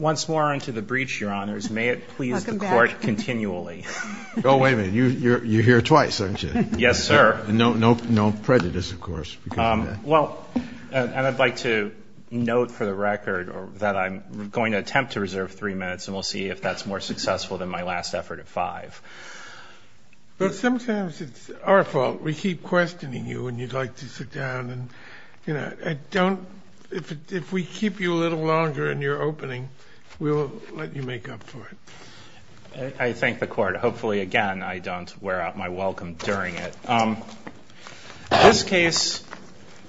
Once more unto the breach, Your Honors, may it please the Court continually. Oh, wait a minute. You're here twice, aren't you? Yes, sir. No prejudice, of course. Well, and I'd like to note for the record that I'm going to attempt to reserve three minutes, and we'll see if that's more successful than my last effort at five. But sometimes it's our fault. We keep questioning you, and you'd like to sit down. If we keep you a little longer in your opening, we'll let you make up for it. I thank the Court. Hopefully, again, I don't wear out my welcome during it. This case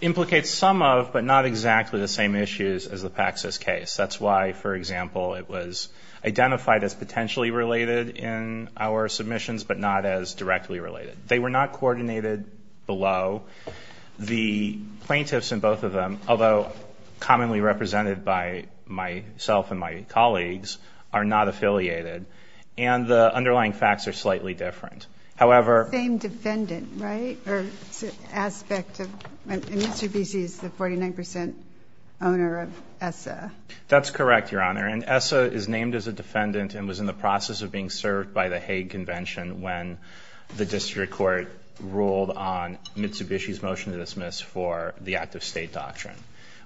implicates some of but not exactly the same issues as the Paxos case. That's why, for example, it was identified as potentially related in our submissions but not as directly related. They were not coordinated below. The plaintiffs in both of them, although commonly represented by myself and my colleagues, are not affiliated. And the underlying facts are slightly different. However ---- Same defendant, right? Or aspect of Mr. Bissi is the 49% owner of ESSA. That's correct, Your Honor. And ESSA is named as a defendant and was in the process of being served by the Hague Convention when the district court ruled on Mitsubishi's motion to dismiss for the Act of State Doctrine,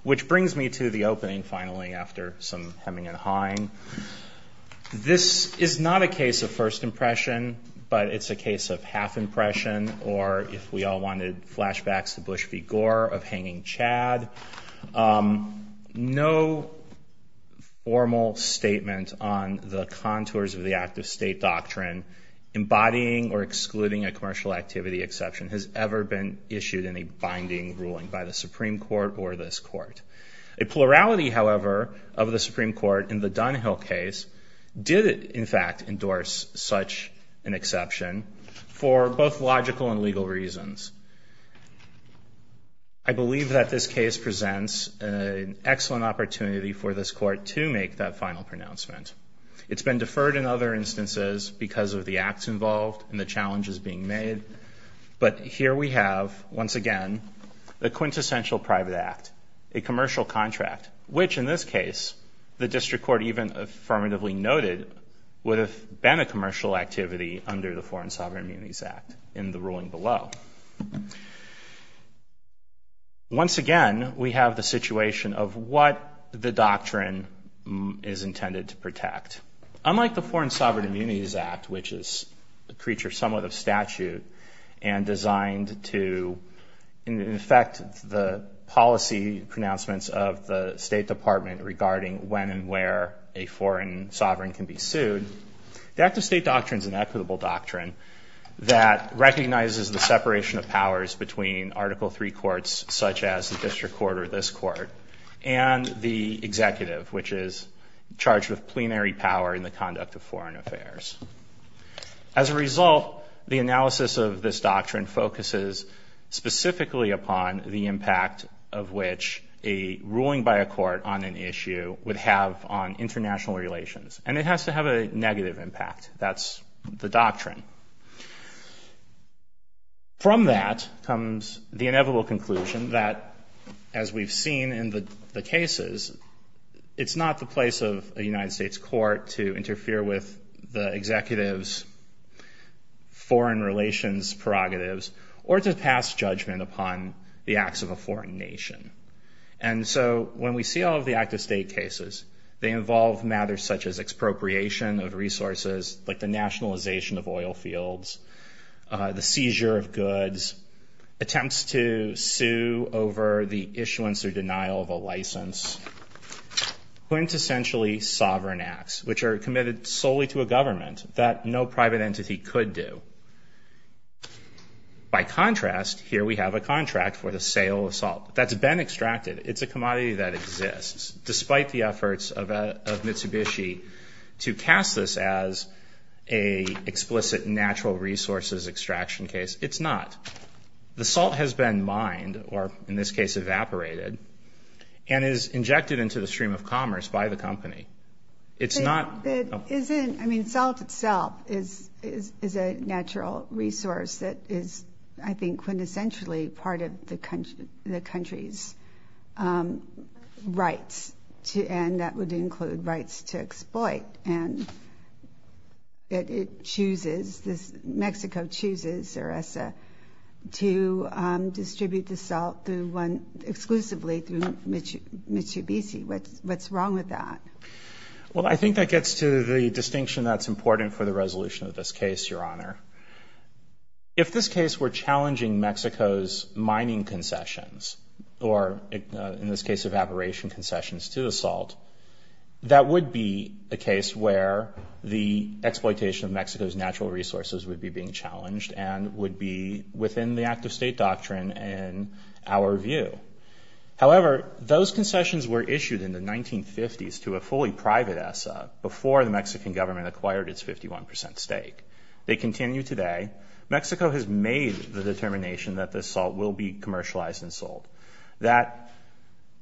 which brings me to the opening, finally, after some hemming and hawing. This is not a case of first impression, but it's a case of half impression or, if we all wanted flashbacks to Bush v. Gore, of hanging Chad. No formal statement on the contours of the Act of State Doctrine, embodying or excluding a commercial activity exception, has ever been issued in a binding ruling by the Supreme Court or this Court. A plurality, however, of the Supreme Court in the Dunhill case did, in fact, endorse such an exception for both logical and legal reasons. I believe that this case presents an excellent opportunity for this Court to make that final pronouncement. It's been deferred in other instances because of the acts involved and the challenges being made, but here we have, once again, the quintessential private act, a commercial contract, which, in this case, the district court even affirmatively noted, would have been a commercial activity under the Foreign Sovereign Immunities Act in the ruling below. Once again, we have the situation of what the doctrine is intended to protect. Unlike the Foreign Sovereign Immunities Act, which is a creature somewhat of statute and designed to, in effect, the policy pronouncements of the State Department regarding when and where a foreign sovereign can be sued, the Act of State doctrine is an equitable doctrine that recognizes the separation of powers between Article III courts, such as the district court or this court, and the executive, which is charged with plenary power in the conduct of foreign affairs. As a result, the analysis of this doctrine focuses specifically upon the impact of which a ruling by a court on an issue would have on international relations. And it has to have a negative impact. That's the doctrine. From that comes the inevitable conclusion that, as we've seen in the cases, it's not the place of a United States court to interfere with the executive's foreign relations prerogatives or to pass judgment upon the acts of a foreign nation. And so when we see all of the Act of State cases, they involve matters such as expropriation of resources, like the nationalization of oil fields, the seizure of goods, attempts to sue over the issuance or denial of a license, quintessentially sovereign acts, which are committed solely to a government that no private entity could do. By contrast, here we have a contract for the sale of salt that's been extracted. It's a commodity that exists, despite the efforts of Mitsubishi to cast this as an explicit natural resources extraction case. It's not. The salt has been mined, or in this case evaporated, and is injected into the stream of commerce by the company. It's not. I mean, salt itself is a natural resource that is, I think, quintessentially part of the country's rights, and that would include rights to exploit. And Mexico chooses, or ESSA, to distribute the salt exclusively through Mitsubishi. What's wrong with that? Well, I think that gets to the distinction that's important for the resolution of this case, Your Honor. If this case were challenging Mexico's mining concessions, or in this case evaporation concessions to the salt, that would be a case where the exploitation of Mexico's natural resources would be being challenged, and would be within the act-of-state doctrine in our view. However, those concessions were issued in the 1950s to a fully private ESSA, before the Mexican government acquired its 51 percent stake. They continue today. Mexico has made the determination that the salt will be commercialized and sold. That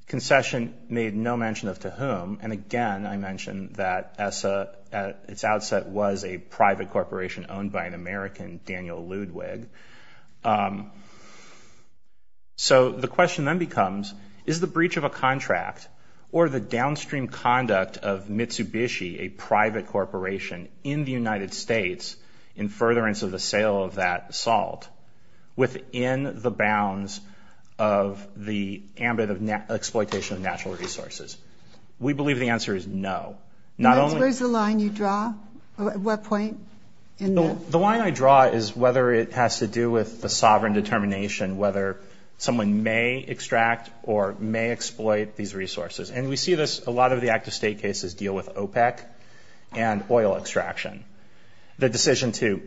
concession made no mention of to whom, and again I mention that ESSA, at its outset was a private corporation owned by an American, Daniel Ludwig. So the question then becomes, is the breach of a contract, or the downstream conduct of Mitsubishi, a private corporation in the United States, in furtherance of the sale of that salt, within the bounds of the ambit of exploitation of natural resources? We believe the answer is no. The line I draw is whether it has to do with the sovereign determination, whether someone may extract or may exploit these resources. And we see this, a lot of the act-of-state cases deal with OPEC and oil extraction. The decision to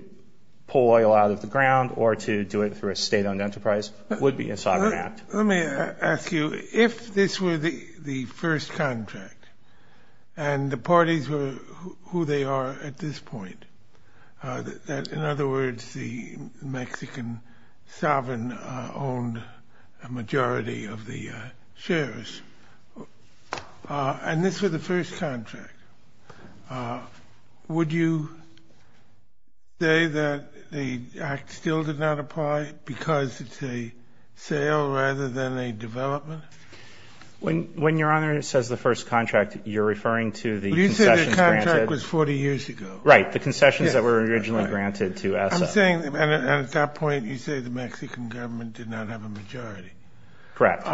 pull oil out of the ground, or to do it through a state-owned enterprise, would be a sovereign act. Let me ask you, if this were the first contract, and the parties were who they are at this point, in other words the Mexican sovereign owned a majority of the shares, and this were the first contract, would you say that the act still did not apply because it's a sale rather than a development? When Your Honor says the first contract, you're referring to the concessions granted? But you said the contract was 40 years ago. Right, the concessions that were originally granted to ESSA. I'm saying, and at that point you say the Mexican government did not have a majority. Correct.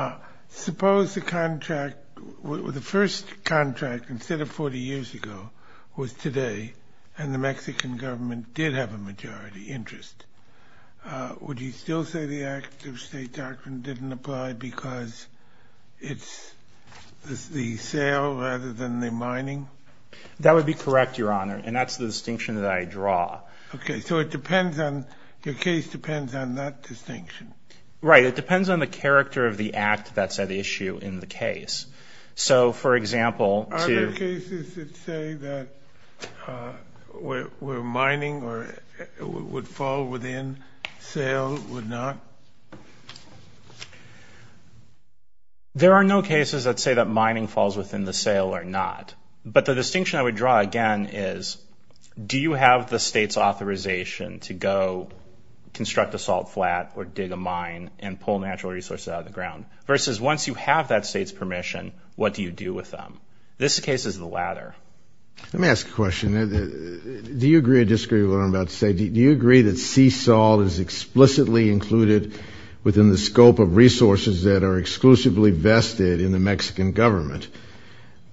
Suppose the contract, the first contract, instead of 40 years ago, was today, and the Mexican government did have a majority interest. Would you still say the act-of-state doctrine didn't apply because it's the sale rather than the mining? That would be correct, Your Honor, and that's the distinction that I draw. Okay, so it depends on, your case depends on that distinction. Right, it depends on the character of the act that's at issue in the case. So, for example, to- Are there cases that say that where mining would fall within, sale would not? There are no cases that say that mining falls within the sale or not, but the distinction I would draw again is, do you have the state's authorization to go construct a salt flat or dig a mine and pull natural resources out of the ground, versus once you have that state's permission, what do you do with them? This case is the latter. Let me ask a question. Do you agree or disagree with what I'm about to say? Do you agree that sea salt is explicitly included within the scope of resources that are exclusively vested in the Mexican government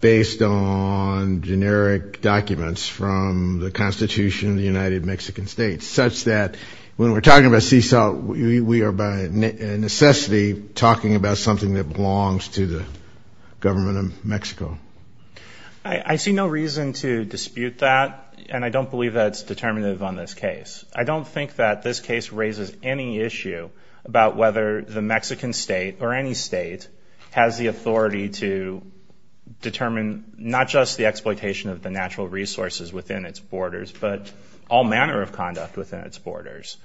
based on generic documents from the Constitution of the United Mexican States, such that when we're talking about sea salt, we are by necessity talking about something that belongs to the government of Mexico? I see no reason to dispute that, and I don't believe that's determinative on this case. I don't think that this case raises any issue about whether the Mexican state or any state has the authority to determine not just the exploitation of the natural resources within its borders, but all manner of conduct within its borders.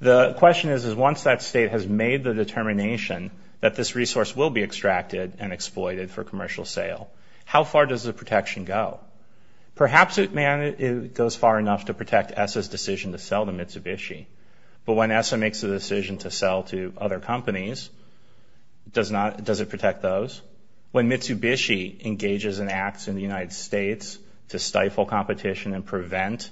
The question is, is once that state has made the determination that this resource will be extracted and exploited for commercial sale, how far does the protection go? Perhaps it goes far enough to protect ESSA's decision to sell to Mitsubishi, but when ESSA makes the decision to sell to other companies, does it protect those? When Mitsubishi engages in acts in the United States to stifle competition and prevent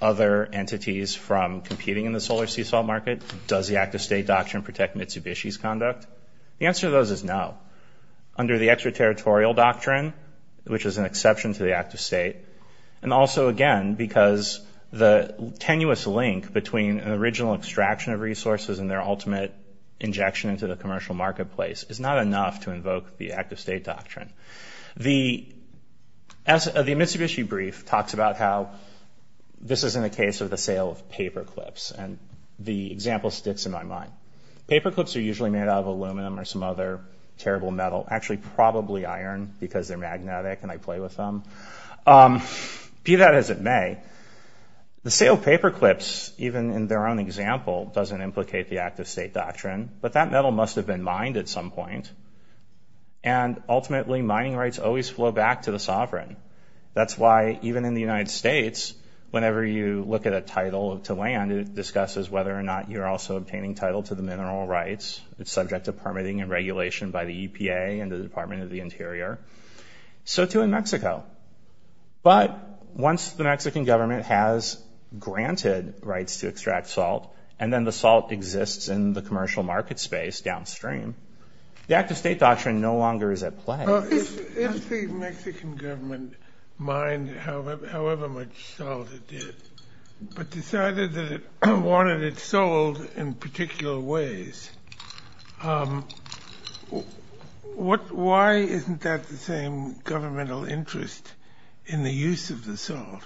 other entities from competing in the solar sea salt market, does the act-of-state doctrine protect Mitsubishi's conduct? The answer to those is no. Under the extraterritorial doctrine, which is an exception to the act-of-state, and also, again, because the tenuous link between an original extraction of resources and their ultimate injection into the commercial marketplace is not enough to invoke the act-of-state doctrine. The Mitsubishi brief talks about how this isn't a case of the sale of paperclips, and the example sticks in my mind. Paperclips are usually made out of aluminum or some other terrible metal, actually probably iron because they're magnetic and I play with them. Be that as it may, the sale of paperclips, even in their own example, doesn't implicate the act-of-state doctrine, but that metal must have been mined at some point. And ultimately, mining rights always flow back to the sovereign. That's why, even in the United States, whenever you look at a title to land, it discusses whether or not you're also obtaining title to the mineral rights. It's subject to permitting and regulation by the EPA and the Department of the Interior. So too in Mexico. But once the Mexican government has granted rights to extract salt, and then the salt exists in the commercial market space downstream, the act-of-state doctrine no longer is at play. If the Mexican government mined however much salt it did, but decided that it wanted it sold in particular ways, why isn't that the same governmental interest in the use of the salt?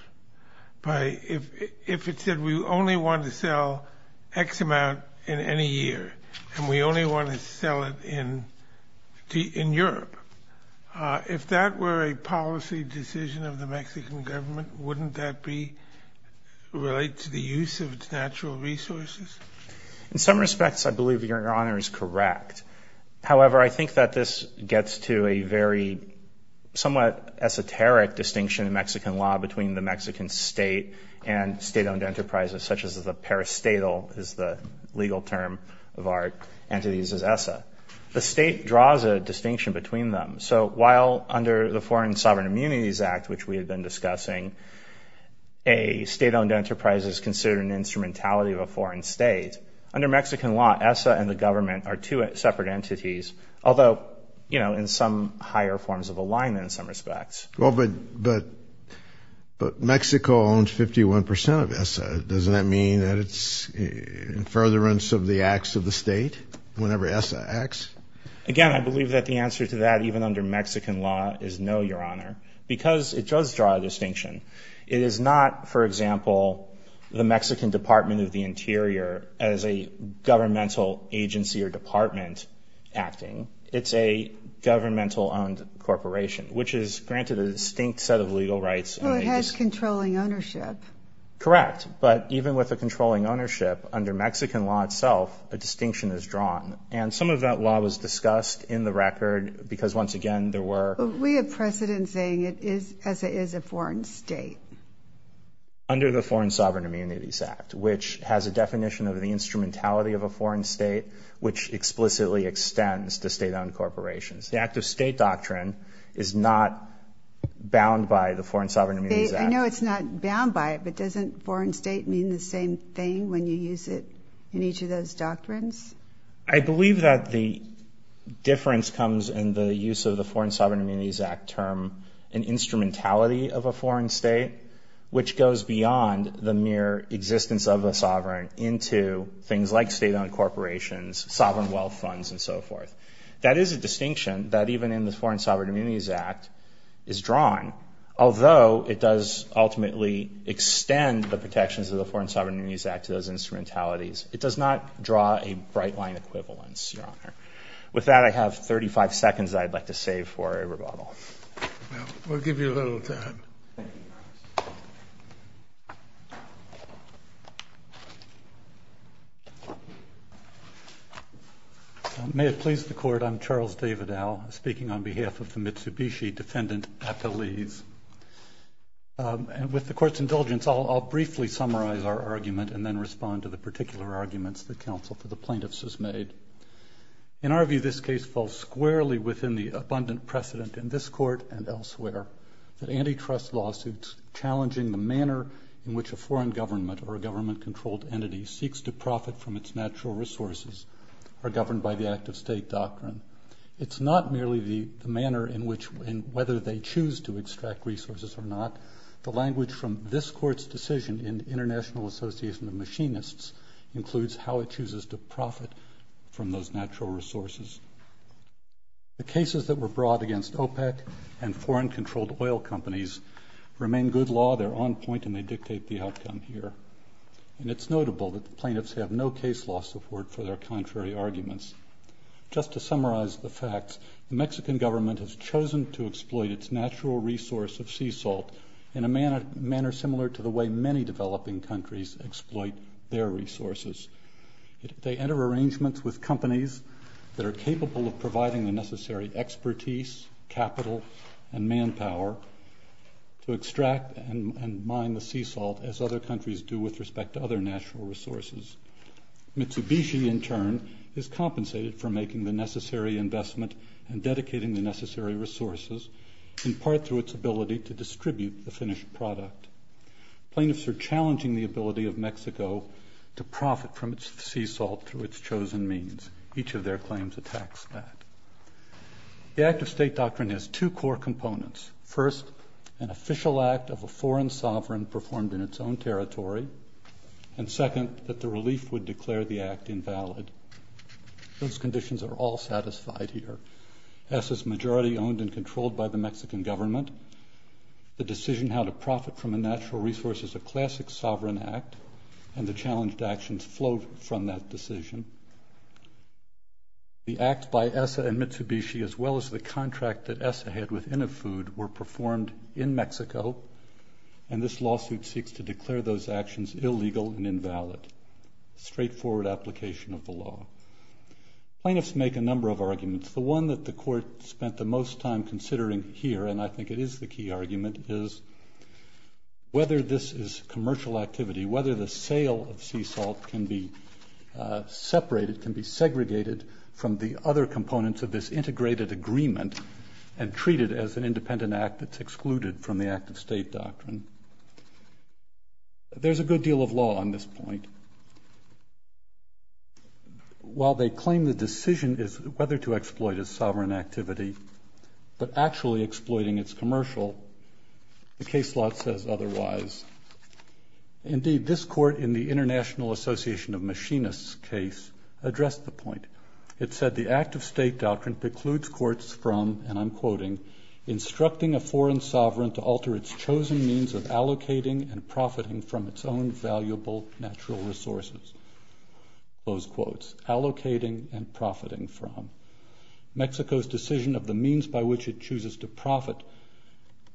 If it said we only want to sell X amount in any year, and we only want to sell it in Europe, if that were a policy decision of the Mexican government, wouldn't that relate to the use of its natural resources? In some respects, I believe Your Honor is correct. However, I think that this gets to a very somewhat esoteric distinction in Mexican law between the Mexican state and state-owned enterprises, such as the peristatal is the legal term of our entities as ESSA. The state draws a distinction between them. So while under the Foreign Sovereign Immunities Act, which we have been discussing, a state-owned enterprise is considered an instrumentality of a foreign state, under Mexican law ESSA and the government are two separate entities, although in some higher forms of alignment in some respects. But Mexico owns 51 percent of ESSA. Doesn't that mean that it's in furtherance of the acts of the state whenever ESSA acts? Again, I believe that the answer to that, even under Mexican law, is no, Your Honor, because it does draw a distinction. It is not, for example, the Mexican Department of the Interior as a governmental agency or department acting. It's a governmental-owned corporation, which is granted a distinct set of legal rights. Well, it has controlling ownership. Correct. But even with the controlling ownership, under Mexican law itself, a distinction is drawn. And some of that law was discussed in the record because, once again, there were... But we have precedent saying ESSA is a foreign state. Under the Foreign Sovereign Immunities Act, which has a definition of the instrumentality of a foreign state, which explicitly extends to state-owned corporations. The act-of-state doctrine is not bound by the Foreign Sovereign Immunities Act. I know it's not bound by it, but doesn't foreign state mean the same thing when you use it in each of those doctrines? I believe that the difference comes in the use of the Foreign Sovereign Immunities Act term and instrumentality of a foreign state, which goes beyond the mere existence of a sovereign into things like state-owned corporations, sovereign wealth funds, and so forth. That is a distinction that, even in the Foreign Sovereign Immunities Act, is drawn, although it does ultimately extend the protections of the Foreign Sovereign Immunities Act to those instrumentalities. It does not draw a bright-line equivalence, Your Honor. With that, I have 35 seconds that I'd like to save for a rebuttal. We'll give you a little time. May it please the Court. Good morning, Your Honor. I'm Charles David Al, speaking on behalf of the Mitsubishi Defendant, Apolise. With the Court's indulgence, I'll briefly summarize our argument and then respond to the particular arguments the counsel for the plaintiffs has made. In our view, this case falls squarely within the abundant precedent in this Court and elsewhere that antitrust lawsuits challenging the manner in which a foreign government or a government-controlled entity seeks to profit from its natural resources are governed by the act-of-state doctrine. It's not merely the manner in which and whether they choose to extract resources or not. The language from this Court's decision in the International Association of Machinists includes how it chooses to profit from those natural resources. The cases that were brought against OPEC and foreign-controlled oil companies remain good law. They're on point, and they dictate the outcome here. And it's notable that the plaintiffs have no case law support for their contrary arguments. Just to summarize the facts, the Mexican government has chosen to exploit its natural resource of sea salt in a manner similar to the way many developing countries exploit their resources. They enter arrangements with companies that are capable of providing the necessary expertise, capital, and manpower to extract and mine the sea salt as other countries do with respect to other natural resources. Mitsubishi, in turn, is compensated for making the necessary investment and dedicating the necessary resources in part through its ability to distribute the finished product. Plaintiffs are challenging the ability of Mexico to profit from its sea salt through its chosen means. Each of their claims attacks that. The Act of State Doctrine has two core components. First, an official act of a foreign sovereign performed in its own territory, and second, that the relief would declare the act invalid. Those conditions are all satisfied here. ESSA's majority owned and controlled by the Mexican government, the decision how to profit from a natural resource is a classic sovereign act, and the challenged actions flowed from that decision. The act by ESSA and Mitsubishi, as well as the contract that ESSA had with INAFUD, were performed in Mexico, and this lawsuit seeks to declare those actions illegal and invalid. Straightforward application of the law. Plaintiffs make a number of arguments. The one that the court spent the most time considering here, and I think it is the key argument, is whether this is commercial activity, whether the sale of sea salt can be separated, can be segregated from the other components of this integrated agreement and treated as an independent act that's excluded from the Act of State Doctrine. There's a good deal of law on this point. While they claim the decision is whether to exploit a sovereign activity, but actually exploiting its commercial, the case law says otherwise. Indeed, this court in the International Association of Machinists case addressed the point. It said the Act of State Doctrine precludes courts from, and I'm quoting, instructing a foreign sovereign to alter its chosen means of allocating and profiting from its own valuable natural resources. Those quotes, allocating and profiting from. Mexico's decision of the means by which it chooses to profit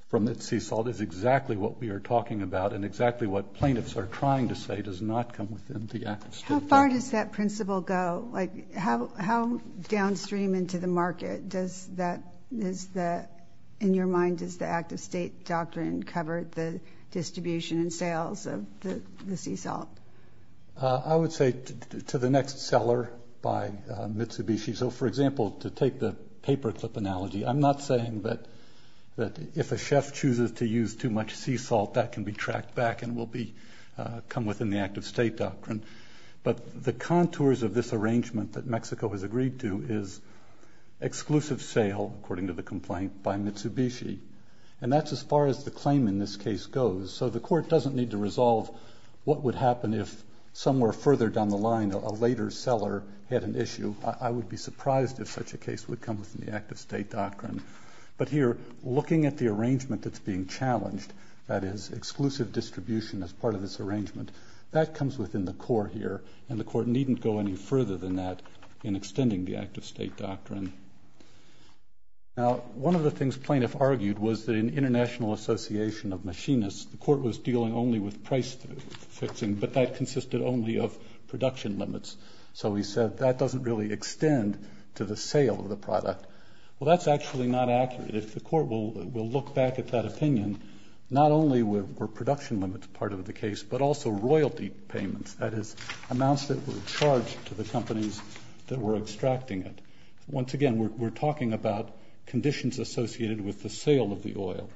from its sea salt is exactly what we are talking about and exactly what plaintiffs are trying to say does not come within the Act of State Doctrine. How far does that principle go? How downstream into the market does that, in your mind, does the Act of State Doctrine cover the distribution and sales of the sea salt? I would say to the next seller by Mitsubishi. So, for example, to take the paperclip analogy, I'm not saying that if a chef chooses to use too much sea salt, that can be tracked back and will come within the Act of State Doctrine. But the contours of this arrangement that Mexico has agreed to is exclusive sale, according to the complaint, by Mitsubishi. And that's as far as the claim in this case goes. So the court doesn't need to resolve what would happen if, somewhere further down the line, a later seller had an issue. I would be surprised if such a case would come within the Act of State Doctrine. But here, looking at the arrangement that's being challenged, that is, exclusive distribution as part of this arrangement, that comes within the core here, and the court needn't go any further than that in extending the Act of State Doctrine. Now, one of the things plaintiffs argued was that in international association of machinists, the court was dealing only with price fixing, but that consisted only of production limits. So he said that doesn't really extend to the sale of the product. Well, that's actually not accurate. If the court will look back at that opinion, not only were production limits part of the case, but also royalty payments, that is, amounts that were charged to the companies that were extracting it. Once again, we're talking about conditions associated with the sale of the oil.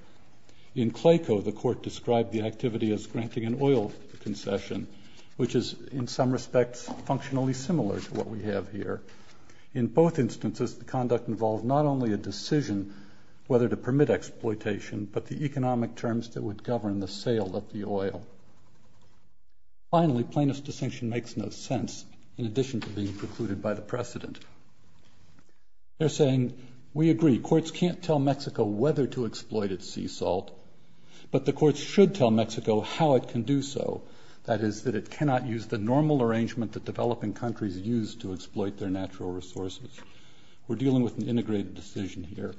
In Clayco, the court described the activity as granting an oil concession, which is, in some respects, functionally similar to what we have here. In both instances, the conduct involved not only a decision whether to permit exploitation, but the economic terms that would govern the sale of the oil. Finally, plaintiff's distinction makes no sense, in addition to being precluded by the precedent. They're saying, we agree, courts can't tell Mexico whether to exploit its sea salt, but the courts should tell Mexico how it can do so, that is, that it cannot use the normal arrangement that developing countries use to exploit their natural resources. We're dealing with an integrated decision here.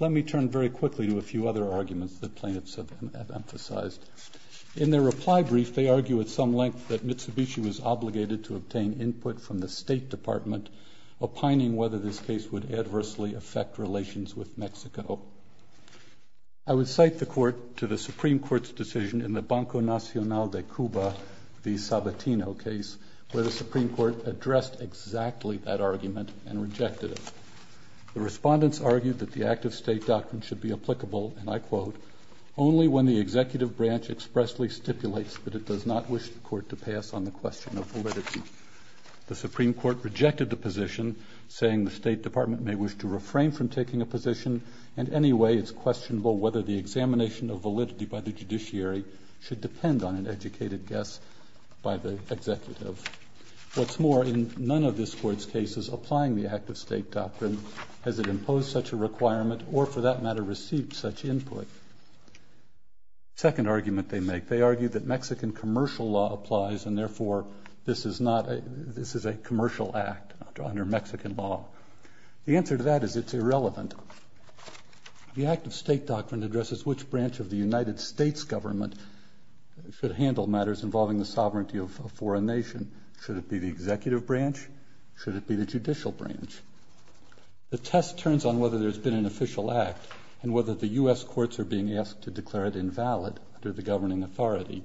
Let me turn very quickly to a few other arguments that plaintiffs have emphasized. In their reply brief, they argue at some length that Mitsubishi was obligated to obtain input from the State Department, opining whether this case would adversely affect relations with Mexico. I would cite the court to the Supreme Court's decision in the Banco Nacional de Cuba v. Sabatino case, where the Supreme Court addressed exactly that argument and rejected it. The respondents argued that the active state doctrine should be applicable, and I quote, only when the executive branch expressly stipulates that it does not wish the court to pass on the question of validity. The Supreme Court rejected the position, saying the State Department may wish to refrain from taking a position, and anyway it's questionable whether the examination of validity by the judiciary should depend on an educated guess by the executive. What's more, in none of this court's cases applying the active state doctrine has it imposed such a requirement or, for that matter, received such input. Second argument they make, they argue that Mexican commercial law applies and therefore this is a commercial act under Mexican law. The answer to that is it's irrelevant. The active state doctrine addresses which branch of the United States government should handle matters involving the sovereignty of a foreign nation. Should it be the executive branch? Should it be the judicial branch? The test turns on whether there's been an official act and whether the U.S. courts are being asked to declare it invalid under the governing authority.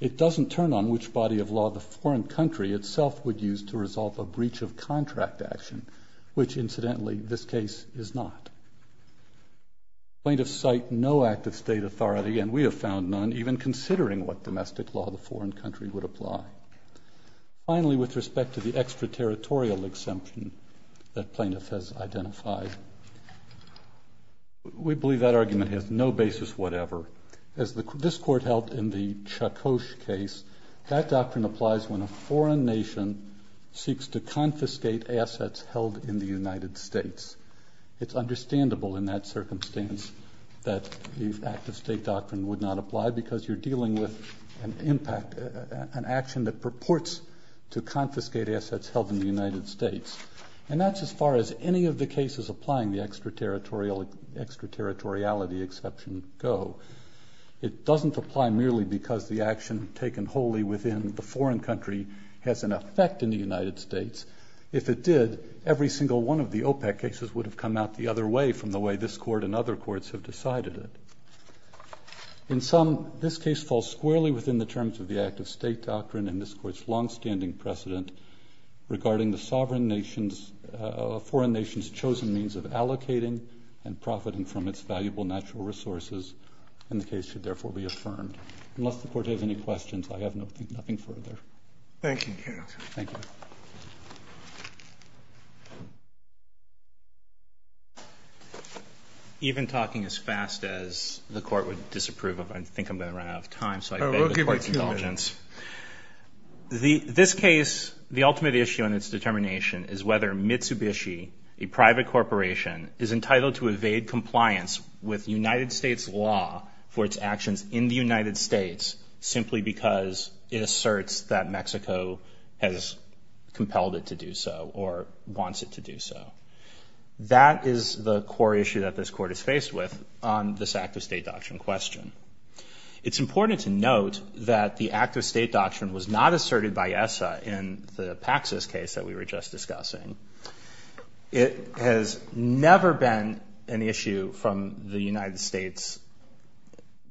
It doesn't turn on which body of law the foreign country itself would use to resolve a breach of contract action, which incidentally this case is not. Plaintiffs cite no active state authority, and we have found none, even considering what domestic law the foreign country would apply. Finally, with respect to the extraterritorial exemption that plaintiff has identified, we believe that argument has no basis whatever. As this court held in the Chakosh case, that doctrine applies when a foreign nation seeks to confiscate assets held in the United States. It's understandable in that circumstance that the active state doctrine would not apply because you're dealing with an action that purports to confiscate assets held in the United States. And that's as far as any of the cases applying the extraterritoriality exception go. It doesn't apply merely because the action taken wholly within the foreign country has an effect in the United States. If it did, every single one of the OPEC cases would have come out the other way from the way this Court and other courts have decided it. In sum, this case falls squarely within the terms of the active state doctrine and this Court's longstanding precedent regarding the sovereign nation's, foreign nation's chosen means of allocating and profiting from its valuable natural resources, and the case should therefore be affirmed. Unless the Court has any questions, I have nothing further. Thank you. Thank you. Even talking as fast as the Court would disapprove of, I think I'm going to run out of time, so I beg the Court's indulgence. We'll give it a few minutes. This case, the ultimate issue in its determination is whether Mitsubishi, a private corporation, is entitled to evade compliance with United States law for its actions in the United States simply because it asserts that Mexico has compelled it to do so or wants it to do so. That is the core issue that this Court is faced with on this active state doctrine question. It's important to note that the active state doctrine was not asserted by ESSA in the Paxos case that we were just discussing. It has never been an issue from the United States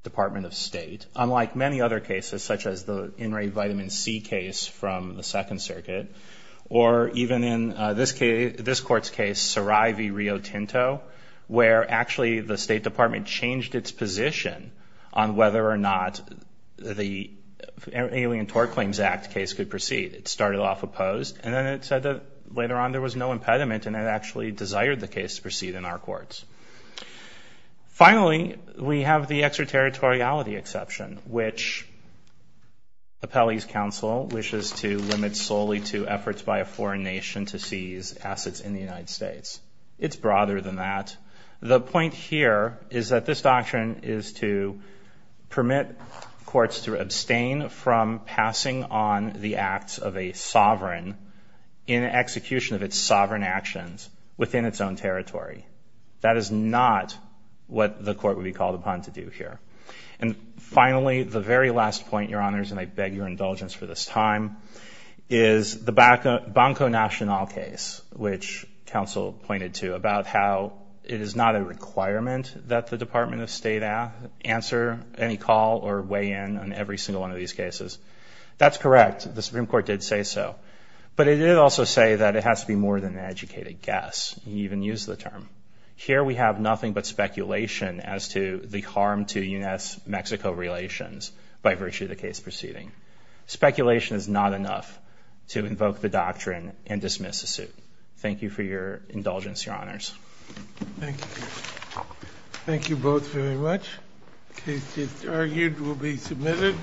Department of State, unlike many other cases such as the in-rate vitamin C case from the Second Circuit, or even in this Court's case, Sarai v. Rio Tinto, where actually the State Department changed its position on whether or not the Alien Tort Claims Act case could proceed. It started off opposed, and then it said that later on there was no impediment, and it actually desired the case to proceed in our courts. Finally, we have the extraterritoriality exception, which Appellee's Counsel wishes to limit solely to efforts by a foreign nation to seize assets in the United States. It's broader than that. The point here is that this doctrine is to permit courts to abstain from passing on the acts of a sovereign in execution of its sovereign actions within its own territory. That is not what the court would be called upon to do here. And finally, the very last point, Your Honors, and I beg your indulgence for this time, is the Banco Nacional case, which Counsel pointed to, about how it is not a requirement that the Department of State answer any call or weigh in on every single one of these cases. That's correct. The Supreme Court did say so. But it did also say that it has to be more than an educated guess. It even used the term. Here we have nothing but speculation as to the harm to U.S.-Mexico relations by virtue of the case proceeding. Speculation is not enough to invoke the doctrine and dismiss the suit. Thank you for your indulgence, Your Honors. Thank you. Thank you both very much. The case is argued, will be submitted.